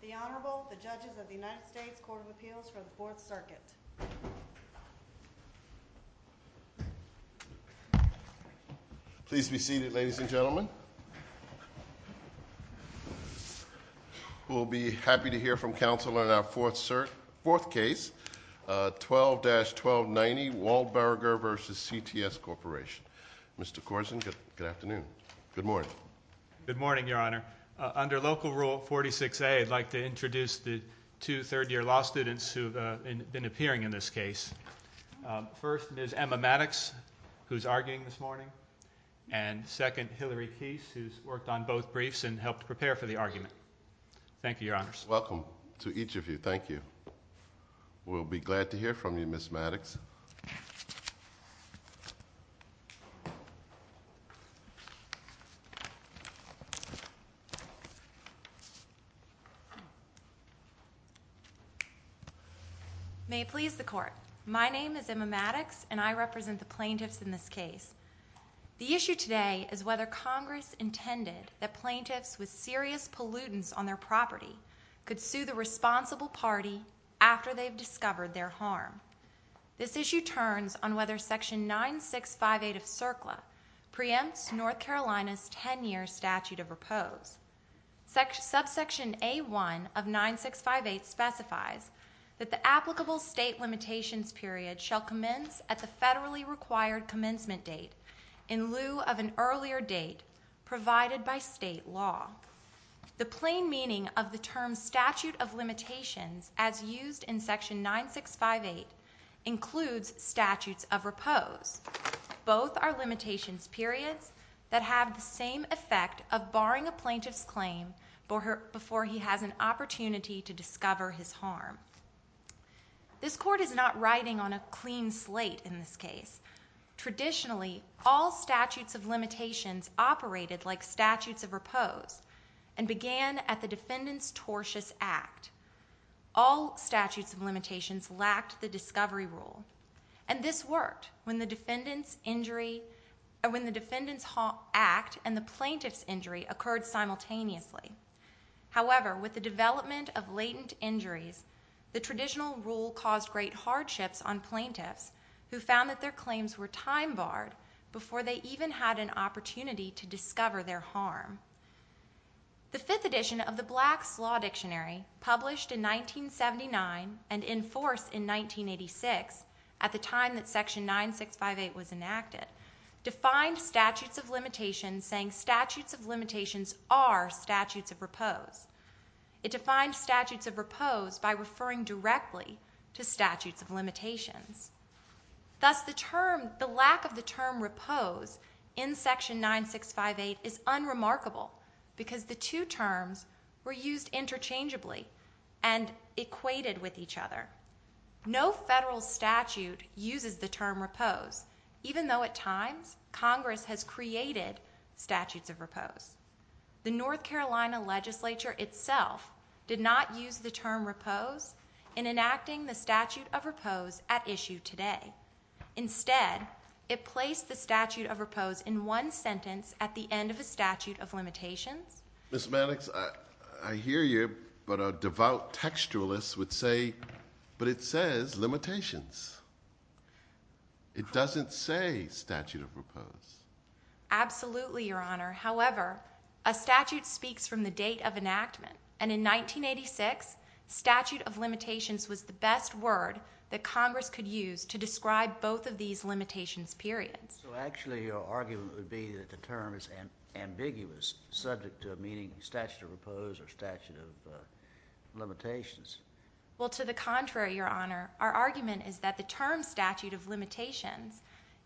The Honorable, the Judges of the United States Court of Appeals for the Fourth Circuit. Please be seated, ladies and gentlemen. We'll be happy to hear from counsel in our fourth case, 12-1290 Waldburger v. CTS Corporation. Mr. Korsen, good afternoon. Good morning. Good morning, Your Honor. Under Local Rule 46A, I'd like to introduce the two third-year law students who have been appearing in this case. First, Ms. Emma Maddox, who's arguing this morning, and second, Hillary Keese, who's worked on both briefs and helped prepare for the argument. Thank you, Your Honors. Welcome to each of you. Thank you. We'll be glad to hear from you, Ms. Maddox. May it please the Court, my name is Emma Maddox, and I represent the plaintiffs in this case. The issue today is whether Congress intended that plaintiffs with serious pollutants on their property could sue the responsible party after they've discovered their harm. This issue turns on whether Section 9658 of CERCLA preempts North Carolina's 10-year statute of repose. Subsection A1 of 9658 specifies that the applicable state limitations period shall commence at the federally required commencement date, in lieu of an earlier date provided by state law. The plain meaning of the term statute of limitations, as used in Section 9658, includes statutes of repose. Both are limitations periods that have the same effect of barring a plaintiff's claim before he has an opportunity to discover his harm. This Court is not riding on a clean slate in this case. Traditionally, all statutes of limitations operated like statutes of repose and began at the defendant's tortious act. All statutes of limitations lacked the discovery rule, and this worked when the defendant's act and the plaintiff's injury occurred simultaneously. However, with the development of latent injuries, the traditional rule caused great hardships on plaintiffs, who found that their claims were time-barred before they even had an opportunity to discover their harm. The fifth edition of the Black's Law Dictionary, published in 1979 and in force in 1986, at the time that Section 9658 was enacted, defined statutes of limitations saying statutes of limitations are statutes of repose. It defined statutes of repose by referring directly to statutes of limitations. Thus, the lack of the term repose in Section 9658 is unremarkable, because the two terms were used interchangeably and equated with each other. No federal statute uses the term repose, even though at times Congress has created statutes of repose. The North Carolina legislature itself did not use the term repose in enacting the statute of repose at issue today. Instead, it placed the statute of repose in one sentence at the end of a statute of limitations. Ms. Maddox, I hear you, but a devout textualist would say, but it says limitations. It doesn't say statute of repose. Absolutely, Your Honor. However, a statute speaks from the date of enactment, and in 1986, statute of limitations was the best word that Congress could use to describe both of these limitations periods. So actually, your argument would be that the term is ambiguous, subject to meaning statute of repose or statute of limitations. Well, to the contrary, Your Honor. Our argument is that the term statute of limitations,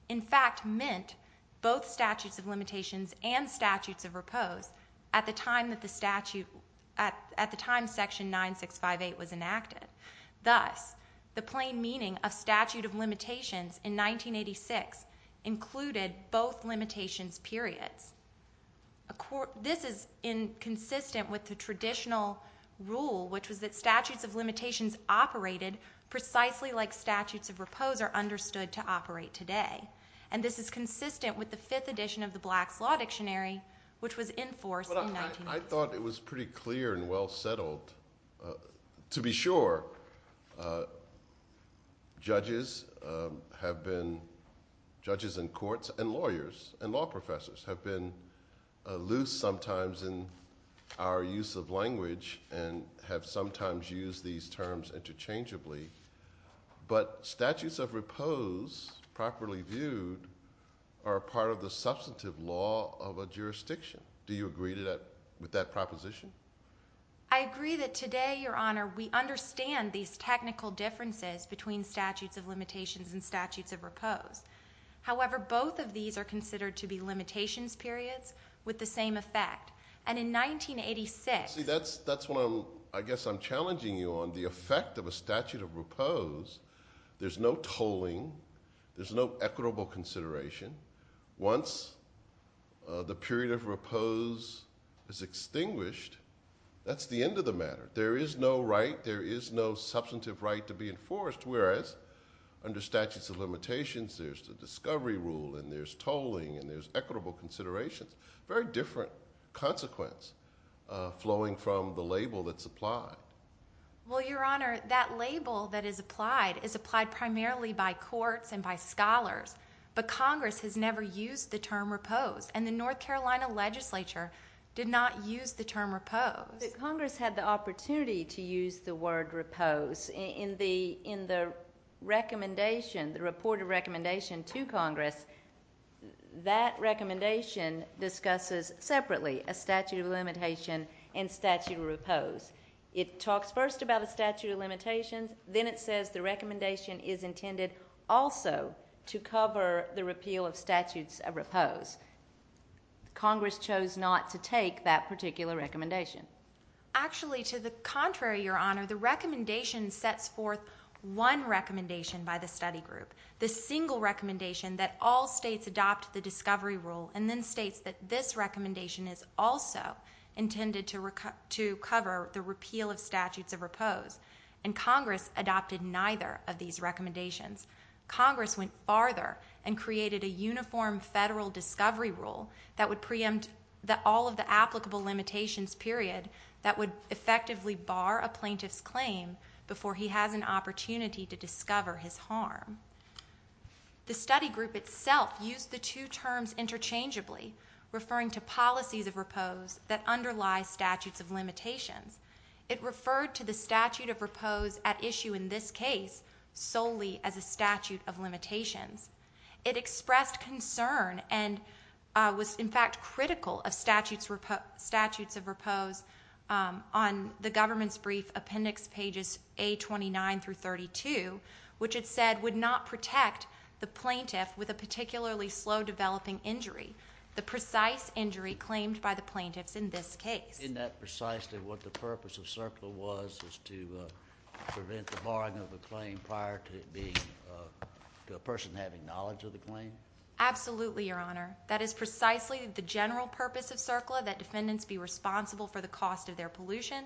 in fact, meant both statutes of limitations and statutes of repose at the time that the statute, at the time Section 9658 was enacted. Thus, the plain meaning of statute of limitations in 1986 included both limitations periods. This is consistent with the traditional rule, which was that statutes of limitations operated precisely like statutes of repose are understood to operate today. And this is consistent with the fifth edition of the Black's Law Dictionary, which was in force in 1986. I thought it was pretty clear and well settled. To be sure, judges and courts and lawyers and law professors have been loose sometimes in our use of language and have sometimes used these terms interchangeably. But statutes of repose, properly viewed, are part of the substantive law of a jurisdiction. Do you agree with that proposition? I agree that today, Your Honor, we understand these technical differences between statutes of limitations and statutes of repose. However, both of these are considered to be limitations periods with the same effect. And in 1986— See, that's what I'm—I guess I'm challenging you on the effect of a statute of repose. There's no tolling. There's no equitable consideration. Once the period of repose is extinguished, that's the end of the matter. There is no right, there is no substantive right to be enforced, whereas under statutes of limitations, there's the discovery rule and there's tolling and there's equitable considerations. Very different consequence flowing from the label that's applied. Well, Your Honor, that label that is applied is applied primarily by courts and by scholars. But Congress has never used the term repose, and the North Carolina legislature did not use the term repose. Congress had the opportunity to use the word repose in the recommendation, the reported recommendation to Congress. That recommendation discusses separately a statute of limitation and statute of repose. It talks first about a statute of limitations. Then it says the recommendation is intended also to cover the repeal of statutes of repose. Congress chose not to take that particular recommendation. Actually, to the contrary, Your Honor, the recommendation sets forth one recommendation by the study group, the single recommendation that all states adopt the discovery rule, and then states that this recommendation is also intended to cover the repeal of statutes of repose. And Congress adopted neither of these recommendations. Congress went farther and created a uniform federal discovery rule that would preempt all of the applicable limitations, period, that would effectively bar a plaintiff's claim before he has an opportunity to discover his harm. The study group itself used the two terms interchangeably, referring to policies of repose that underlie statutes of limitations. It referred to the statute of repose at issue in this case solely as a statute of limitations. It expressed concern and was, in fact, critical of statutes of repose on the government's brief appendix pages A29 through 32, which it said would not protect the plaintiff with a particularly slow developing injury, the precise injury claimed by the plaintiffs in this case. Isn't that precisely what the purpose of CERCLA was, was to prevent the barring of a claim prior to a person having knowledge of the claim? Absolutely, Your Honor. That is precisely the general purpose of CERCLA, that defendants be responsible for the cost of their pollution,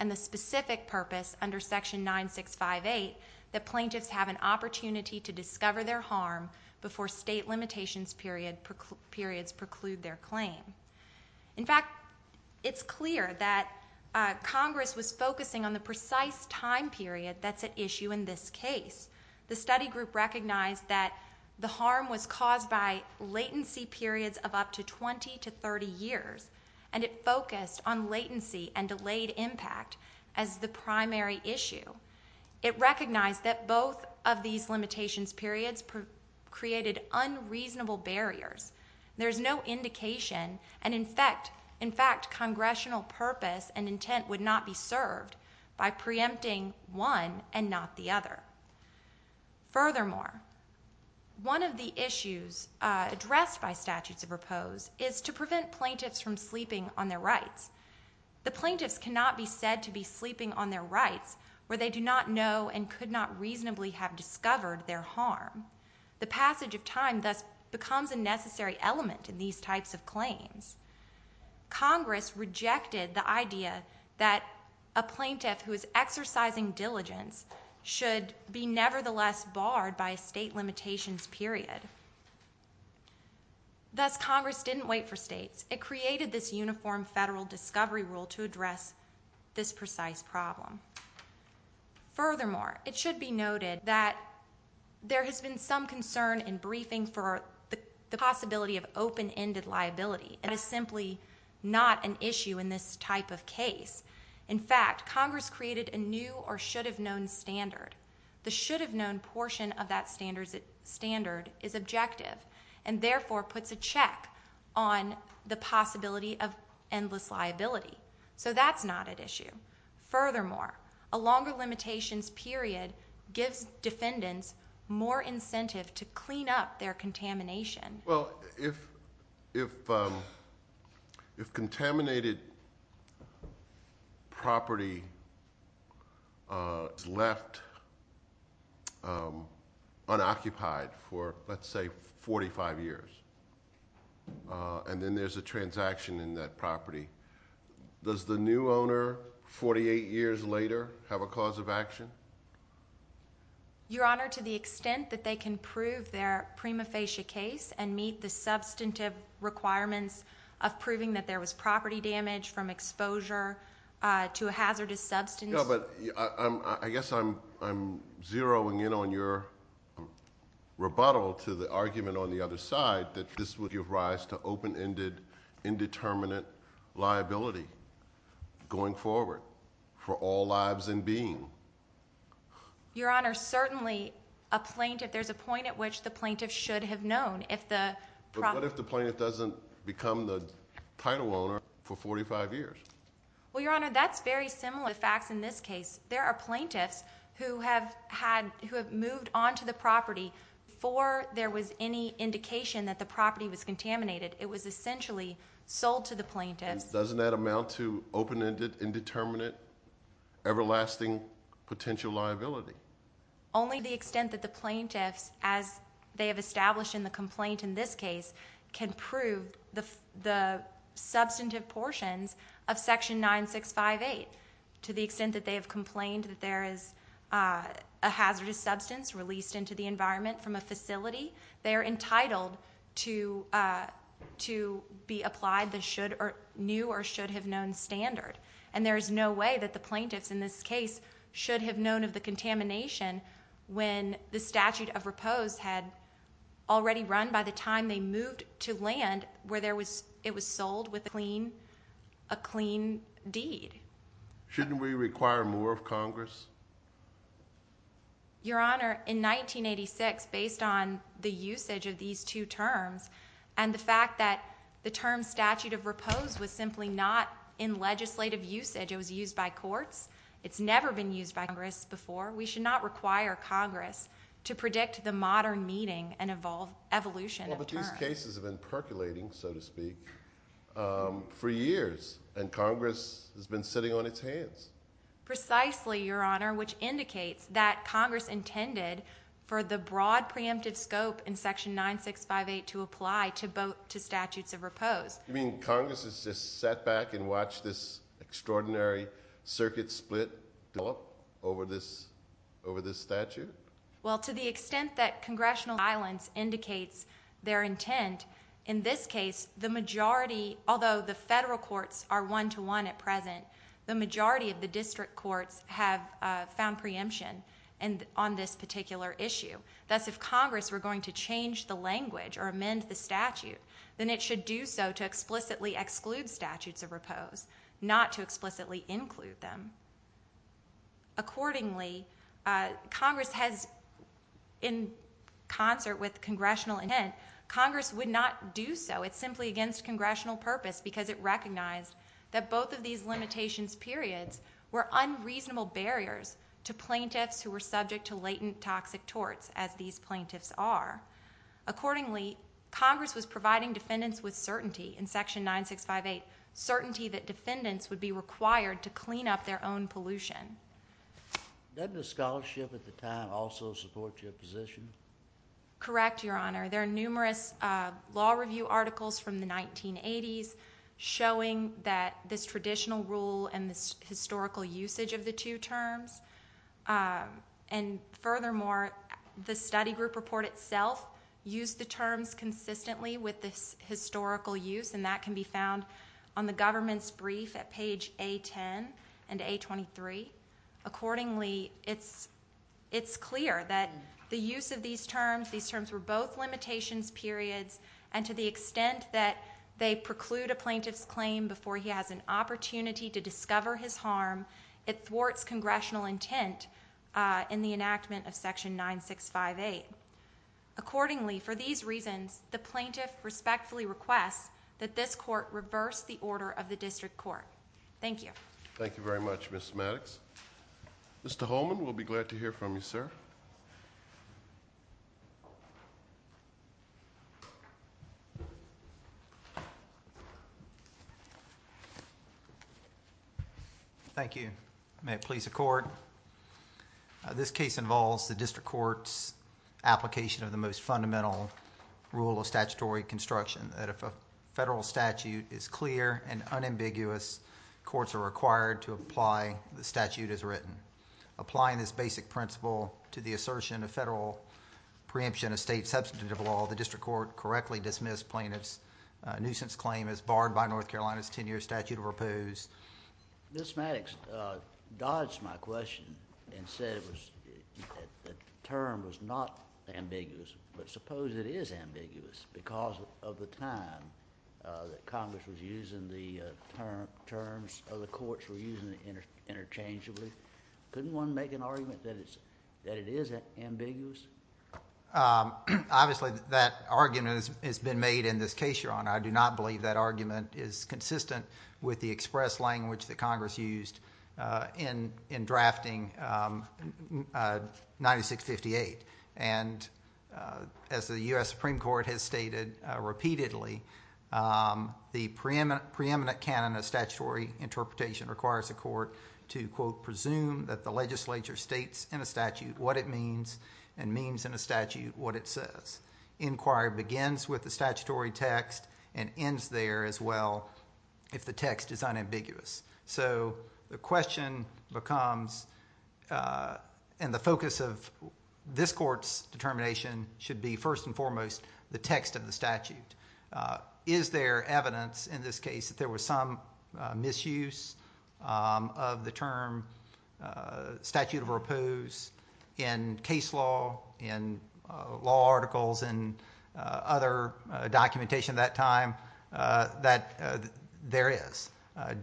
and the specific purpose under Section 9658 that plaintiffs have an opportunity to discover their harm before state limitations periods preclude their claim. In fact, it's clear that Congress was focusing on the precise time period that's at issue in this case. The study group recognized that the harm was caused by latency periods of up to 20 to 30 years, and it focused on latency and delayed impact as the primary issue. It recognized that both of these limitations periods created unreasonable barriers. There's no indication, and in fact, congressional purpose and intent would not be served by preempting one and not the other. Furthermore, one of the issues addressed by statutes of repose is to prevent plaintiffs from sleeping on their rights. The plaintiffs cannot be said to be sleeping on their rights where they do not know and could not reasonably have discovered their harm. The passage of time thus becomes a necessary element in these types of claims. Congress rejected the idea that a plaintiff who is exercising diligence should be nevertheless barred by a state limitations period. Thus, Congress didn't wait for states. It created this uniform federal discovery rule to address this precise problem. Furthermore, it should be noted that there has been some concern in briefing for the possibility of open-ended liability, and it's simply not an issue in this type of case. In fact, Congress created a new or should-have-known standard. The should-have-known portion of that standard is objective, and therefore puts a check on the possibility of endless liability. So that's not at issue. Furthermore, a longer limitations period gives defendants more incentive to clean up their contamination. Well, if contaminated property is left unoccupied for, let's say, 45 years, and then there's a transaction in that property, does the new owner, 48 years later, have a cause of action? Your Honor, to the extent that they can prove their prima facie case and meet the substantive requirements of proving that there was property damage from exposure to a hazardous substance. No, but I guess I'm zeroing in on your rebuttal to the argument on the other side that this would give rise to open-ended indeterminate liability going forward for all lives and being. Your Honor, certainly there's a point at which the plaintiff should have known. But what if the plaintiff doesn't become the title owner for 45 years? Well, Your Honor, that's very similar to the facts in this case. There are plaintiffs who have moved onto the property before there was any indication that the property was contaminated. It was essentially sold to the plaintiff. Doesn't that amount to open-ended indeterminate everlasting potential liability? Only to the extent that the plaintiffs, as they have established in the complaint in this case, can prove the substantive portions of Section 9658. To the extent that they have complained that there is a hazardous substance released into the environment from a facility, they are entitled to be applied the new or should-have-known standard. And there is no way that the plaintiffs in this case should have known of the contamination when the statute of repose had already run by the time they moved to land where it was sold with a clean deed. Your Honor, in 1986, based on the usage of these two terms and the fact that the term statute of repose was simply not in legislative usage, it was used by courts, it's never been used by Congress before, we should not require Congress to predict the modern meeting and evolution of terms. Well, but these cases have been percolating, so to speak, for years. And Congress has been sitting on its hands. Precisely, Your Honor, which indicates that Congress intended for the broad preemptive scope in Section 9658 to apply to statutes of repose. You mean Congress has just sat back and watched this extraordinary circuit split develop over this statute? Well, to the extent that congressional violence indicates their intent, in this case, the majority, although the federal courts are one-to-one at present, the majority of the district courts have found preemption on this particular issue. Thus, if Congress were going to change the language or amend the statute, then it should do so to explicitly exclude statutes of repose, not to explicitly include them. Accordingly, Congress has, in concert with congressional intent, Congress would not do so. It's simply against congressional purpose because it recognized that both of these limitations periods were unreasonable barriers to plaintiffs who were subject to latent toxic torts, as these plaintiffs are. Accordingly, Congress was providing defendants with certainty in Section 9658, certainty that defendants would be required to clean up their own pollution. Doesn't the scholarship at the time also support your position? Correct, Your Honor. There are numerous law review articles from the 1980s showing that this traditional rule and this historical usage of the two terms, and furthermore, the study group report itself used the terms consistently with this historical use, and that can be found on the government's brief at page A10 and A23. Accordingly, it's clear that the use of these terms, these terms were both limitations periods, and to the extent that they preclude a plaintiff's claim before he has an opportunity to discover his harm, it thwarts congressional intent in the enactment of Section 9658. Accordingly, for these reasons, the plaintiff respectfully requests that this court reverse the order of the district court. Thank you. Thank you very much, Ms. Maddox. Mr. Holman, we'll be glad to hear from you, sir. Thank you. May it please the Court. This case involves the district court's application of the most fundamental rule of statutory construction, that if a federal statute is clear and unambiguous, courts are required to apply the statute as written. Applying this basic principle to the assertion of federal preemption of state substantive law, the district court correctly dismissed plaintiff's nuisance claim as barred by North Carolina's 10-year statute of repose. Ms. Maddox dodged my question and said the term was not ambiguous, but suppose it is ambiguous because of the time that Congress was using the terms, or the courts were using it interchangeably. Couldn't one make an argument that it is ambiguous? Obviously, that argument has been made in this case, Your Honor. I do not believe that argument is consistent with the express language that Congress used in drafting 9658. And as the U.S. Supreme Court has stated repeatedly, the preeminent canon of statutory interpretation requires the court to, quote, presume that the legislature states in a statute what it means and means in a statute what it says. Inquiry begins with the statutory text and ends there as well if the text is unambiguous. So the question becomes and the focus of this court's determination should be first and foremost the text of the statute. Is there evidence in this case that there was some misuse of the term statute of repose in case law, in law articles and other documentation at that time? There is.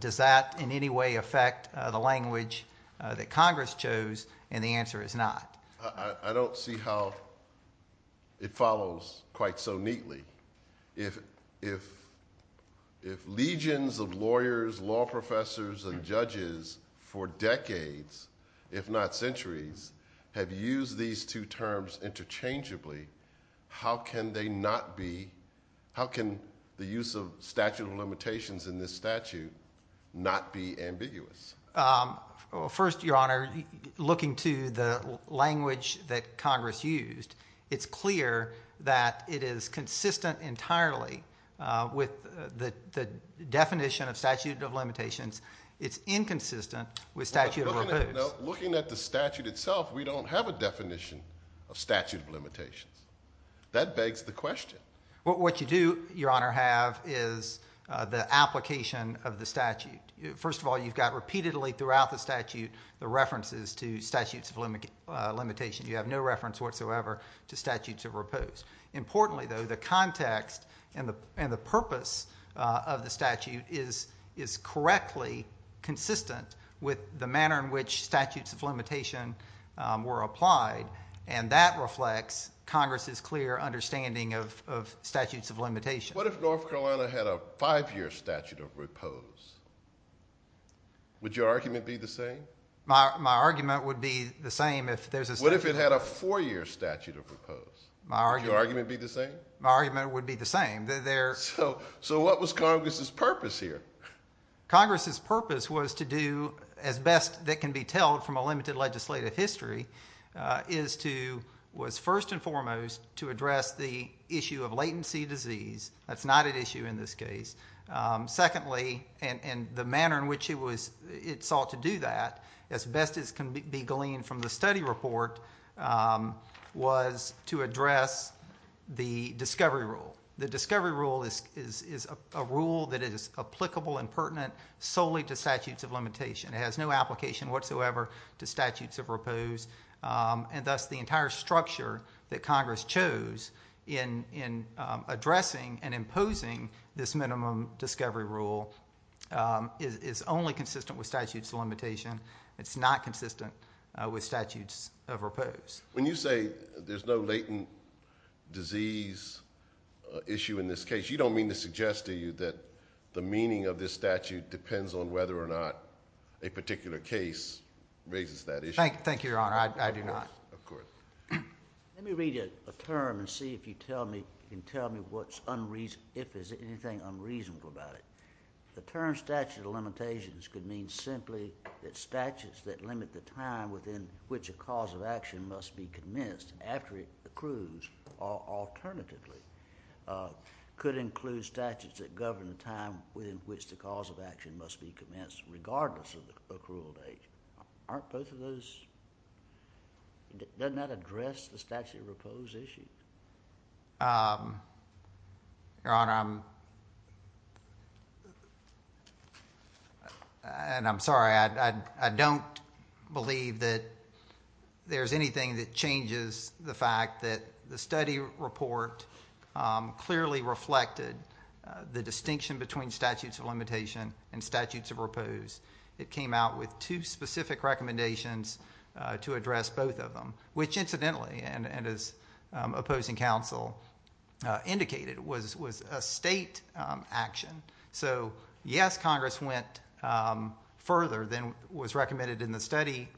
Does that in any way affect the language that Congress chose? And the answer is not. I don't see how it follows quite so neatly. If legions of lawyers, law professors, and judges for decades, if not centuries, have used these two terms interchangeably, how can they not be, how can the use of statute of limitations in this statute not be ambiguous? First, Your Honor, looking to the language that Congress used, it's clear that it is consistent entirely with the definition of statute of limitations. It's inconsistent with statute of repose. Now, looking at the statute itself, we don't have a definition of statute of limitations. That begs the question. What you do, Your Honor, have is the application of the statute. First of all, you've got repeatedly throughout the statute the references to statutes of limitations. You have no reference whatsoever to statutes of repose. Importantly, though, the context and the purpose of the statute is correctly consistent with the manner in which statutes of limitation were applied, and that reflects Congress's clear understanding of statutes of limitation. What if North Carolina had a five-year statute of repose? Would your argument be the same? My argument would be the same if there's a statute of repose. What if it had a four-year statute of repose? Would your argument be the same? My argument would be the same. So what was Congress's purpose here? Congress's purpose was to do, as best that can be told from a limited legislative history, was first and foremost to address the issue of latency disease. That's not at issue in this case. Secondly, and the manner in which it sought to do that, as best as can be gleaned from the study report, was to address the discovery rule. The discovery rule is a rule that is applicable and pertinent solely to statutes of limitation. It has no application whatsoever to statutes of repose, and thus the entire structure that Congress chose in addressing and imposing this minimum discovery rule is only consistent with statutes of limitation. It's not consistent with statutes of repose. When you say there's no latent disease issue in this case, you don't mean to suggest to you that the meaning of this statute depends on whether or not a particular case raises that issue? Thank you, Your Honor. I do not. Of course. Let me read you a term and see if you can tell me if there's anything unreasonable about it. The term statute of limitations could mean simply that statutes that limit the time within which a cause of action must be commenced after it accrues, or alternatively, could include statutes that govern the time within which the cause of action must be commenced regardless of the accrual date. Aren't both of those? Doesn't that address the statute of repose issue? Your Honor, I'm sorry. I don't believe that there's anything that changes the fact that the study report clearly reflected the distinction between statutes of limitation and statutes of repose. It came out with two specific recommendations to address both of them, which incidentally, and as opposing counsel indicated, was a state action. So yes, Congress went further than was recommended in the study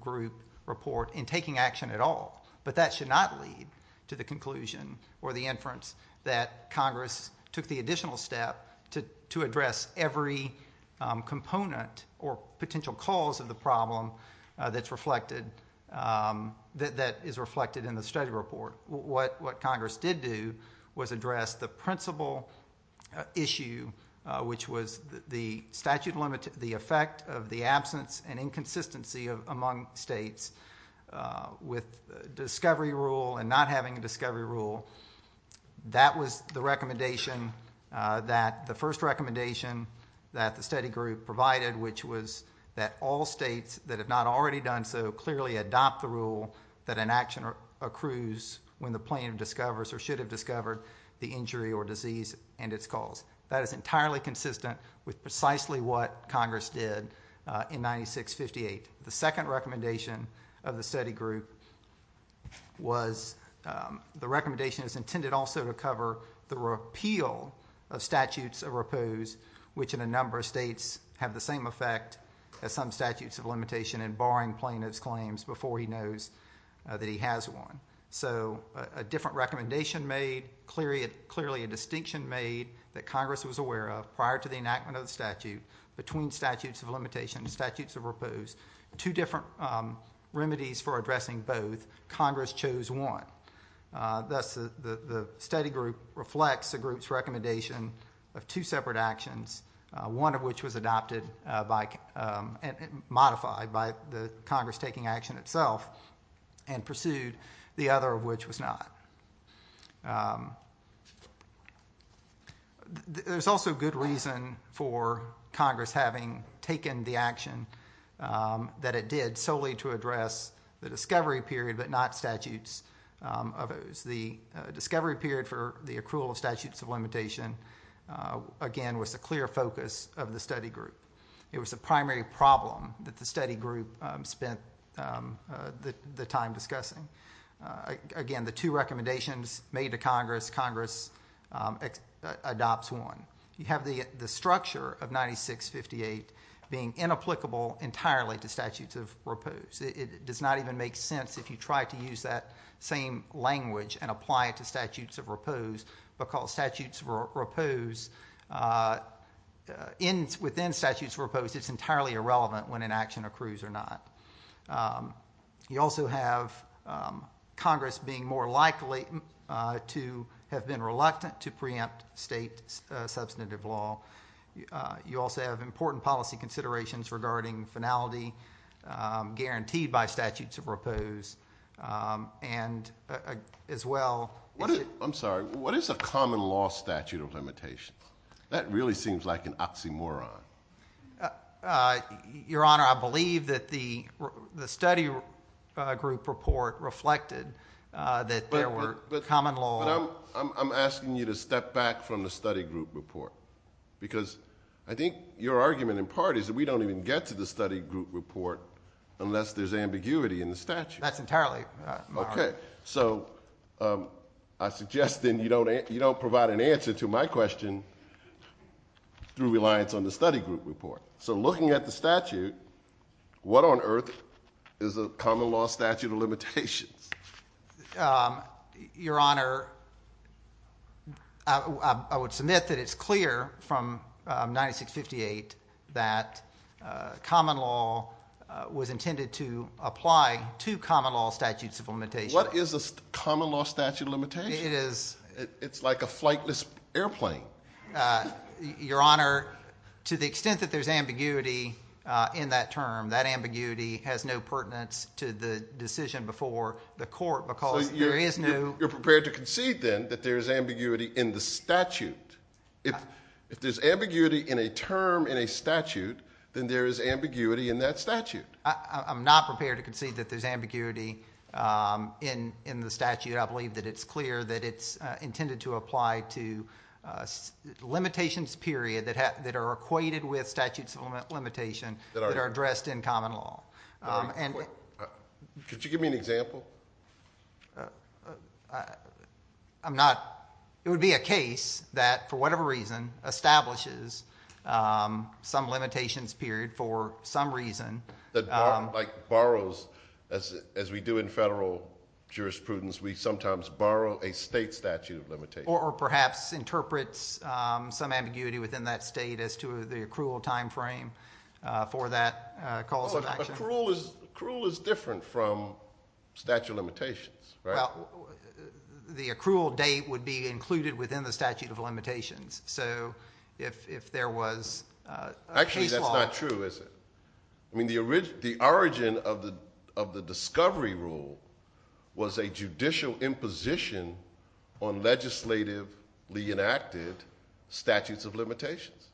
group report in taking action at all, but that should not lead to the conclusion or the inference that Congress took the additional step to address every component or potential cause of the problem that is reflected in the study report. What Congress did do was address the principal issue, which was the effect of the absence and inconsistency among states with discovery rule and not having a discovery rule. That was the first recommendation that the study group provided, which was that all states that have not already done so clearly adopt the rule that an action accrues when the plaintiff discovers or should have discovered the injury or disease and its cause. That is entirely consistent with precisely what Congress did in 96-58. The second recommendation of the study group was the recommendation is intended also to cover the repeal of statutes of repose, which in a number of states have the same effect as some statutes of limitation in barring plaintiff's claims before he knows that he has one. So a different recommendation made, clearly a distinction made that Congress was aware of prior to the enactment of the statute between statutes of limitation and statutes of repose, two different remedies for addressing both. Congress chose one. Thus the study group reflects the group's recommendation of two separate actions, one of which was adopted and modified by Congress taking action itself and pursued, the other of which was not. There's also good reason for Congress having taken the action that it did solely to address the discovery period but not statutes of those. The discovery period for the accrual of statutes of limitation, again, was a clear focus of the study group. It was a primary problem that the study group spent the time discussing. Again, the two recommendations made to Congress, Congress adopts one. You have the structure of 96-58 being inapplicable entirely to statutes of repose. It does not even make sense if you try to use that same language and apply it to statutes of repose because statutes of repose, within statutes of repose it's entirely irrelevant when an action accrues or not. You also have Congress being more likely to have been reluctant to preempt state substantive law. You also have important policy considerations regarding finality guaranteed by statutes of repose. I'm sorry. What is a common law statute of limitation? That really seems like an oxymoron. Your Honor, I believe that the study group report reflected that there were common laws. But I'm asking you to step back from the study group report because I think your argument in part is that we don't even get to the study group report unless there's ambiguity in the statute. That's entirely. Okay. So I suggest then you don't provide an answer to my question through reliance on the study group report. So looking at the statute, what on earth is a common law statute of limitations? Your Honor, I would submit that it's clear from 96-58 that common law was intended to apply to common law statutes of limitation. What is a common law statute of limitation? It is. It's like a flightless airplane. Your Honor, to the extent that there's ambiguity in that term, that ambiguity has no pertinence to the decision before the court because there is no. You're prepared to concede then that there's ambiguity in the statute. If there's ambiguity in a term in a statute, then there is ambiguity in that statute. I'm not prepared to concede that there's ambiguity in the statute. I believe that it's clear that it's intended to apply to limitations period that are equated with statutes of limitation that are addressed in common law. Could you give me an example? I'm not. It would be a case that, for whatever reason, establishes some limitations period for some reason. Like borrows as we do in federal jurisprudence. We sometimes borrow a state statute of limitation. Or perhaps interprets some ambiguity within that state as to the accrual time frame for that cause of action. Accrual is different from statute of limitations, right? Well, the accrual date would be included within the statute of limitations. So if there was a case law. Actually, that's not true, is it? The origin of the discovery rule was a judicial imposition on legislatively enacted statutes of limitations.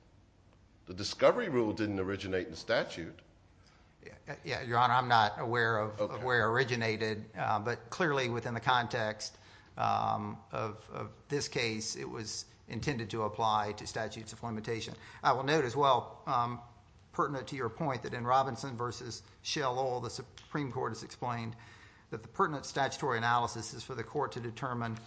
The discovery rule didn't originate in the statute. Your Honor, I'm not aware of where it originated. But clearly within the context of this case, it was intended to apply to statutes of limitation. I will note as well, pertinent to your point, that in Robinson v. Shell Oil, the Supreme Court has explained that the pertinent statutory analysis is for the court to determine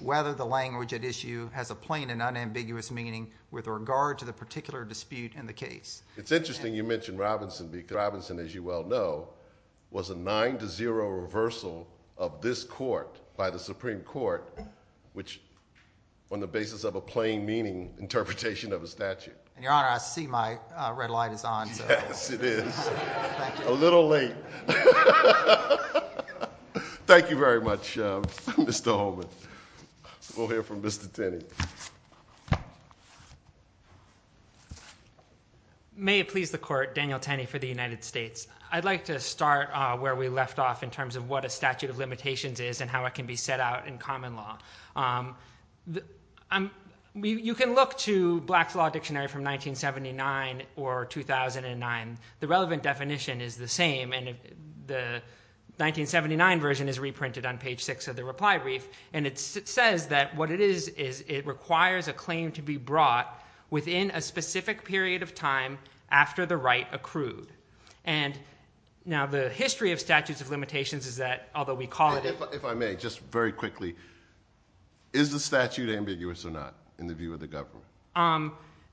whether the language at issue has a plain and unambiguous meaning with regard to the particular dispute in the case. It's interesting you mention Robinson because Robinson, as you well know, was a 9-0 reversal of this court by the Supreme Court, which on the basis of a plain meaning interpretation of a statute. Your Honor, I see my red light is on. Yes, it is. A little late. Thank you very much, Mr. Holman. We'll hear from Mr. Tenney. May it please the Court, Daniel Tenney for the United States. I'd like to start where we left off in terms of what a statute of limitations is and how it can be set out in common law. You can look to Black's Law Dictionary from 1979 or 2009. The relevant definition is the same, and the 1979 version is reprinted on page 6 of the reply brief, and it says that what it is is it requires a claim to be brought within a specific period of time after the right accrued. Now, the history of statutes of limitations is that, If I may, just very quickly, is the statute ambiguous or not in the view of the government?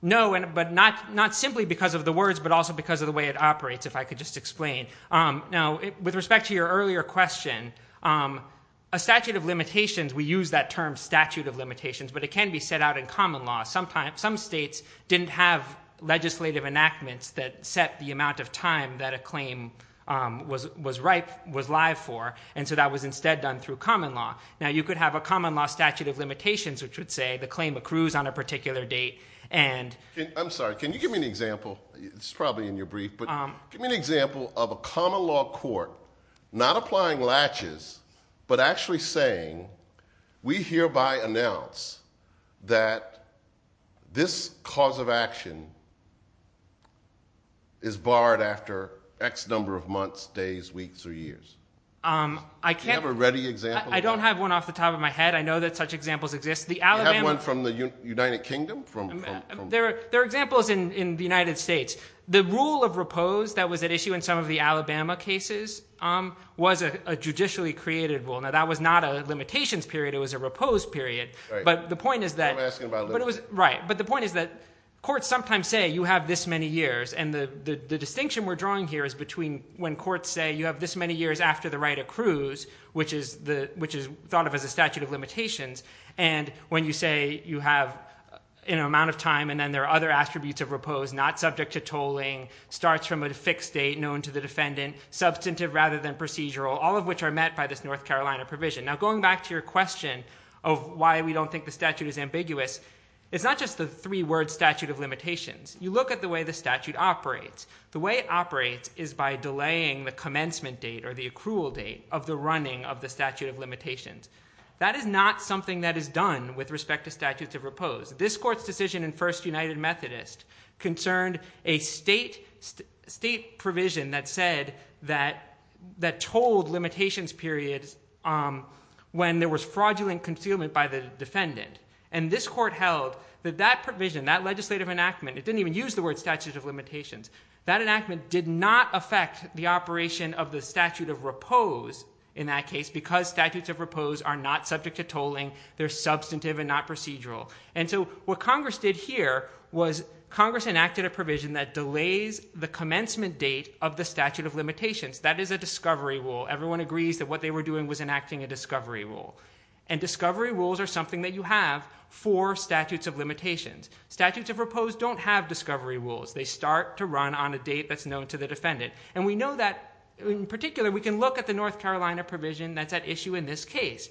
No, but not simply because of the words, but also because of the way it operates, if I could just explain. Now, with respect to your earlier question, a statute of limitations, we use that term statute of limitations, but it can be set out in common law. Some states didn't have legislative enactments that set the amount of time that a claim was live for, and so that was instead done through common law. Now, you could have a common law statute of limitations, which would say the claim accrues on a particular date. I'm sorry, can you give me an example? It's probably in your brief, but give me an example of a common law court not applying latches, but actually saying, We hereby announce that this cause of action is barred after X number of months, days, weeks, or years. Do you have a ready example? I don't have one off the top of my head. I know that such examples exist. Do you have one from the United Kingdom? There are examples in the United States. The rule of repose that was at issue in some of the Alabama cases was a judicially created rule. Now, that was not a limitations period, it was a repose period. But the point is that courts sometimes say you have this many years, and the distinction we're drawing here is between when courts say you have this many years after the right accrues, which is thought of as a statute of limitations, and when you say you have an amount of time and then there are other attributes of repose, not subject to tolling, starts from a fixed date known to the defendant, substantive rather than procedural, all of which are met by this North Carolina provision. Now, going back to your question of why we don't think the statute is ambiguous, it's not just the three-word statute of limitations. You look at the way the statute operates. The way it operates is by delaying the commencement date or the accrual date of the running of the statute of limitations. That is not something that is done with respect to statutes of repose. This court's decision in First United Methodist concerned a state provision that told limitations periods when there was fraudulent concealment by the defendant. And this court held that that provision, that legislative enactment, it didn't even use the word statute of limitations, that enactment did not affect the operation of the statute of repose in that case because statutes of repose are not subject to tolling, they're substantive and not procedural. And so what Congress did here was Congress enacted a provision that delays the commencement date of the statute of limitations. That is a discovery rule. Everyone agrees that what they were doing was enacting a discovery rule. And discovery rules are something that you have for statutes of limitations. Statutes of repose don't have discovery rules. They start to run on a date that's known to the defendant. And we know that, in particular, we can look at the North Carolina provision that's at issue in this case.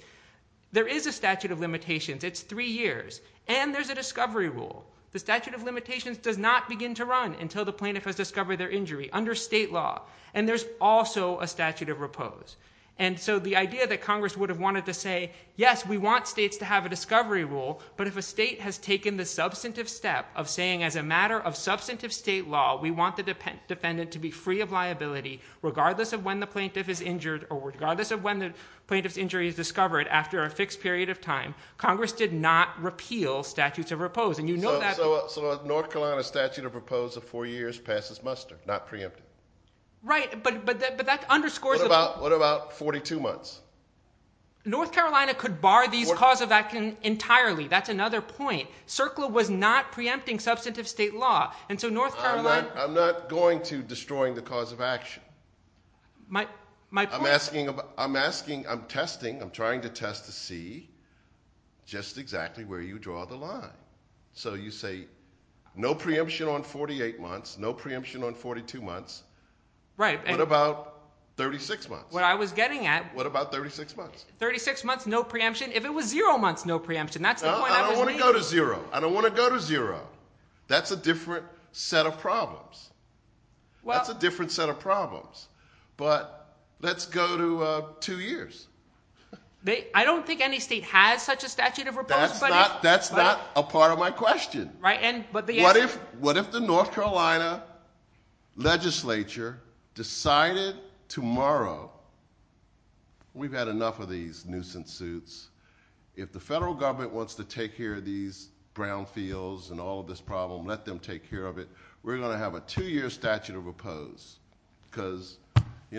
There is a statute of limitations. It's three years. And there's a discovery rule. The statute of limitations does not begin to run until the plaintiff has discovered their injury under state law. And there's also a statute of repose. And so the idea that Congress would have wanted to say, yes, we want states to have a discovery rule, but if a state has taken the substantive step of saying, as a matter of substantive state law, we want the defendant to be free of liability regardless of when the plaintiff is injured or regardless of when the plaintiff's injury is discovered after a fixed period of time, Congress did not repeal statutes of repose. So a North Carolina statute of repose of four years passes muster, not preempted. Right, but that underscores the point. What about 42 months? North Carolina could bar these cause of action entirely. That's another point. CERCLA was not preempting substantive state law. I'm not going to destroying the cause of action. I'm asking, I'm testing, I'm trying to test to see just exactly where you draw the line. So you say no preemption on 48 months, no preemption on 42 months. What about 36 months? What I was getting at. What about 36 months? 36 months, no preemption. If it was zero months, no preemption. That's the point I was making. I don't want to go to zero. I don't want to go to zero. That's a different set of problems. That's a different set of problems. But let's go to two years. I don't think any state has such a statute of repose. That's not a part of my question. What if the North Carolina legislature decided tomorrow, we've had enough of these nuisance suits. If the federal government wants to take care of these brownfields and all of this problem, let them take care of it. We're going to have a two-year statute of repose. Because the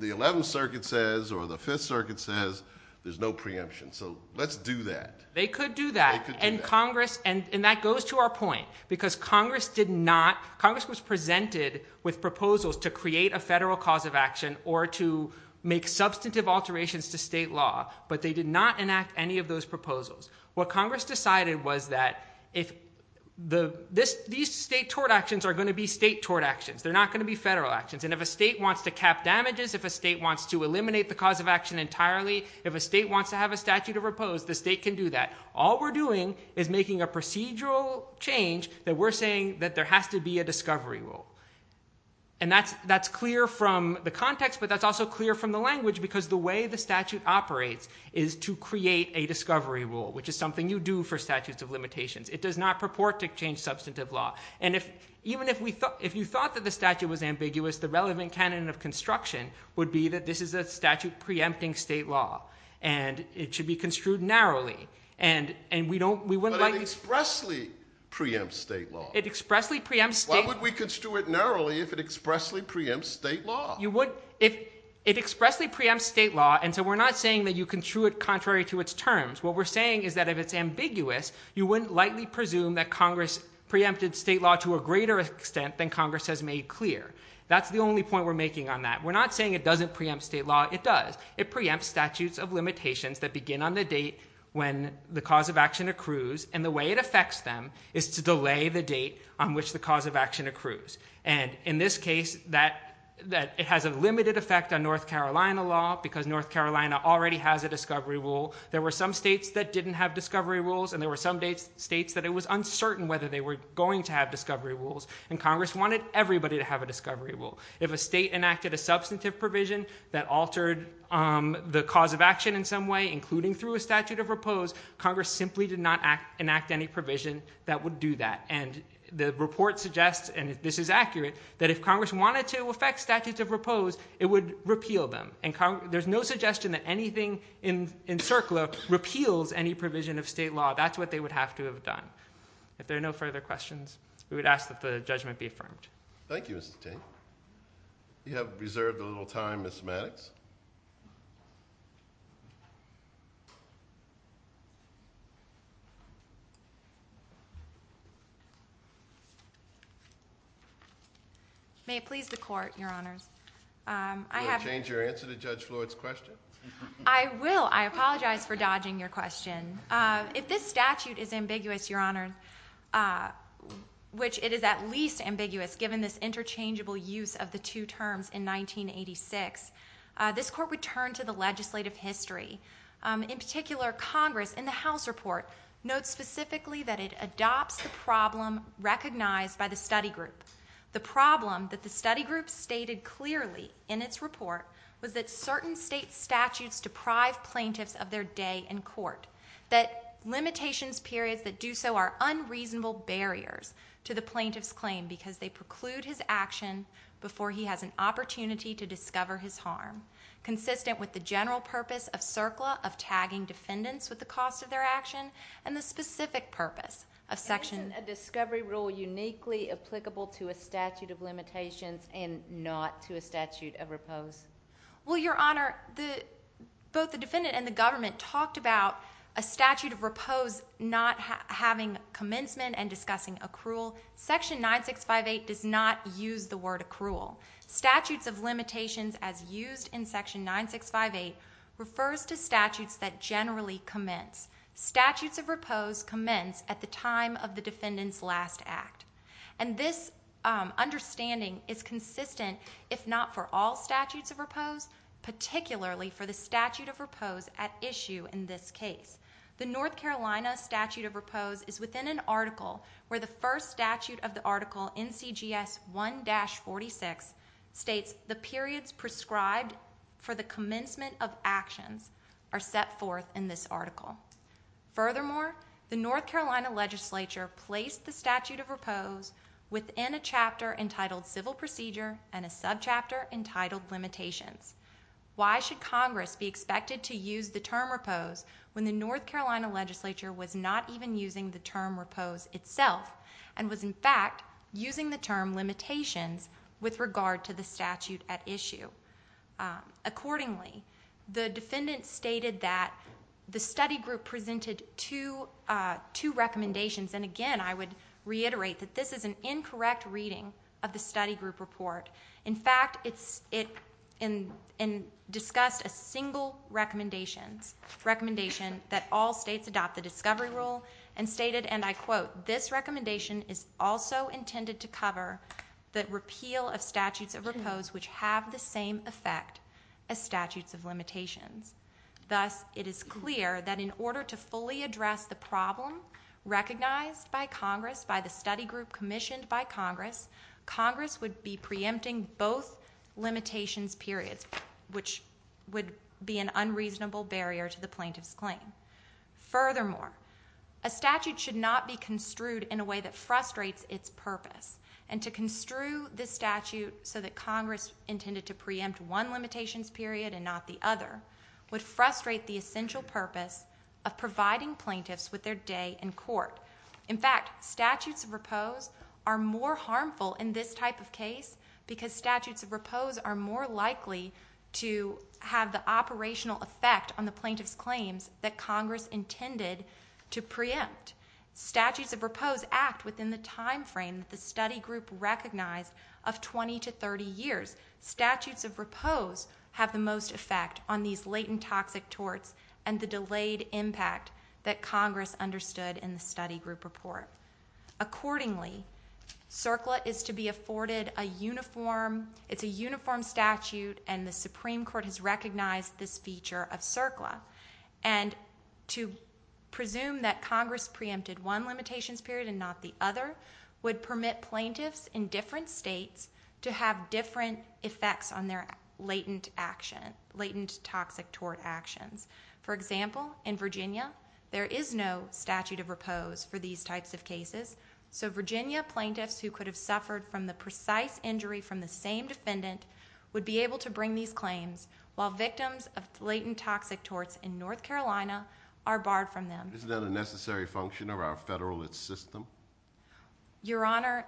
11th Circuit says, or the 5th Circuit says, there's no preemption. So let's do that. They could do that. They could do that. And that goes to our point, because Congress did not, Congress was presented with proposals to create a federal cause of action or to make substantive alterations to state law, but they did not enact any of those proposals. What Congress decided was that if the, these state tort actions are going to be state tort actions. They're not going to be federal actions. And if a state wants to cap damages, if a state wants to eliminate the cause of action entirely, if a state wants to have a statute of repose, the state can do that. All we're doing is making a procedural change that we're saying that there has to be a discovery rule. And that's clear from the context, but that's also clear from the language, because the way the statute operates is to create a discovery rule, which is something you do for statutes of limitations. It does not purport to change substantive law. And if, even if we thought, if you thought that the statute was ambiguous, the relevant canon of construction would be that this is a statute preempting state law and it should be construed narrowly. And, and we don't, we wouldn't like. It expressly preempts state law. It expressly preempts state law. Why would we construe it narrowly if it expressly preempts state law? You would, if it expressly preempts state law, and so we're not saying that you construe it contrary to its terms. What we're saying is that if it's ambiguous, you wouldn't likely presume that Congress preempted state law to a greater extent than Congress has made clear. That's the only point we're making on that. We're not saying it doesn't preempt state law. It does. It preempts statutes of limitations that begin on the date when the cause of action accrues, and the way it affects them is to delay the date on which the cause of action accrues. And in this case, it has a limited effect on North Carolina law because North Carolina already has a discovery rule. There were some states that didn't have discovery rules, and there were some states that it was uncertain whether they were going to have discovery rules, and Congress wanted everybody to have a discovery rule. If a state enacted a substantive provision that altered the cause of action in some way, including through a statute of repose, Congress simply did not enact any provision that would do that. And the report suggests, and this is accurate, that if Congress wanted to affect statutes of repose, it would repeal them. There's no suggestion that anything in CERCLA repeals any provision of state law. That's what they would have to have done. If there are no further questions, we would ask that the judgment be affirmed. Thank you, Mr. Tate. You have reserved a little time, Ms. Maddox. May it please the Court, Your Honors. Would you change your answer to Judge Floyd's question? I will. I apologize for dodging your question. If this statute is ambiguous, Your Honor, which it is at least ambiguous given this interchangeable use of the two terms in 1986, this Court would turn to the legislative history. In particular, Congress, in the House report, notes specifically that it adopts the problem recognized by the study group. The problem that the study group stated clearly in its report was that certain state statutes deprive plaintiffs of their day in court, that limitations periods that do so are unreasonable barriers to the plaintiff's claim because they preclude his action before he has an opportunity to discover his harm, consistent with the general purpose of CERCLA of tagging defendants with the cost of their action and the specific purpose of Section 9658. Isn't a discovery rule uniquely applicable to a statute of limitations and not to a statute of repose? Well, Your Honor, both the defendant and the government talked about a statute of repose not having commencement and discussing accrual. Section 9658 does not use the word accrual. Statutes of limitations, as used in Section 9658, refers to statutes that generally commence. Statutes of repose commence at the time of the defendant's last act. And this understanding is consistent, if not for all statutes of repose, particularly for the statute of repose at issue in this case. The North Carolina statute of repose is within an article where the first statute of the article, NCGS 1-46, states the periods prescribed for the commencement of actions are set forth in this article. Furthermore, the North Carolina legislature placed the statute of repose within a chapter entitled Civil Procedure and a subchapter entitled Limitations. Why should Congress be expected to use the term repose when the North Carolina legislature was not even using the term repose itself with regard to the statute at issue? Accordingly, the defendant stated that the study group presented two recommendations, and again I would reiterate that this is an incorrect reading of the study group report. In fact, it discussed a single recommendation that all states adopt the discovery rule and stated, and I quote, this recommendation is also intended to cover the repeal of statutes of repose which have the same effect as statutes of limitations. Thus, it is clear that in order to fully address the problem recognized by Congress, by the study group commissioned by Congress, Congress would be preempting both limitations periods, which would be an unreasonable barrier to the plaintiff's claim. Furthermore, a statute should not be construed in a way that frustrates its purpose, and to construe this statute so that Congress intended to preempt one limitations period and not the other would frustrate the essential purpose of providing plaintiffs with their day in court. In fact, statutes of repose are more harmful in this type of case because statutes of repose are more likely to have the operational effect on the plaintiff's claims that Congress intended to preempt. Statutes of repose act within the time frame that the study group recognized of 20 to 30 years. Statutes of repose have the most effect on these latent toxic torts and the delayed impact that Congress understood in the study group report. Accordingly, CERCLA is to be afforded a uniform... It's a uniform statute, and the Supreme Court has recognized this feature of CERCLA. And to presume that Congress preempted one limitations period and not the other would permit plaintiffs in different states to have different effects on their latent action, latent toxic tort actions. For example, in Virginia, there is no statute of repose for these types of cases, so Virginia plaintiffs who could have suffered from the precise injury from the same defendant would be able to bring these claims while victims of latent toxic torts in North Carolina are barred from them. Is that a necessary function of our federal system? Your Honor,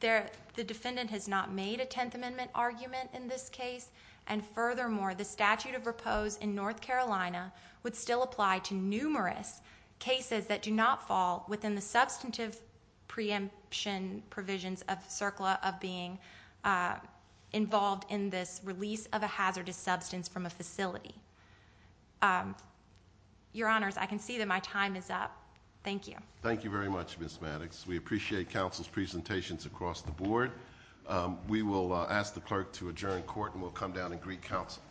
the defendant has not made a Tenth Amendment argument in this case, and furthermore, the statute of repose in North Carolina would still apply to numerous cases that do not fall within the substantive preemption provisions of CERCLA of being involved in this release of a hazardous substance from a facility. Your Honors, I can see that my time is up. Thank you. Thank you very much, Ms. Maddox. We appreciate counsel's presentations across the board. We will ask the clerk to adjourn court and we'll come down and greet counsel.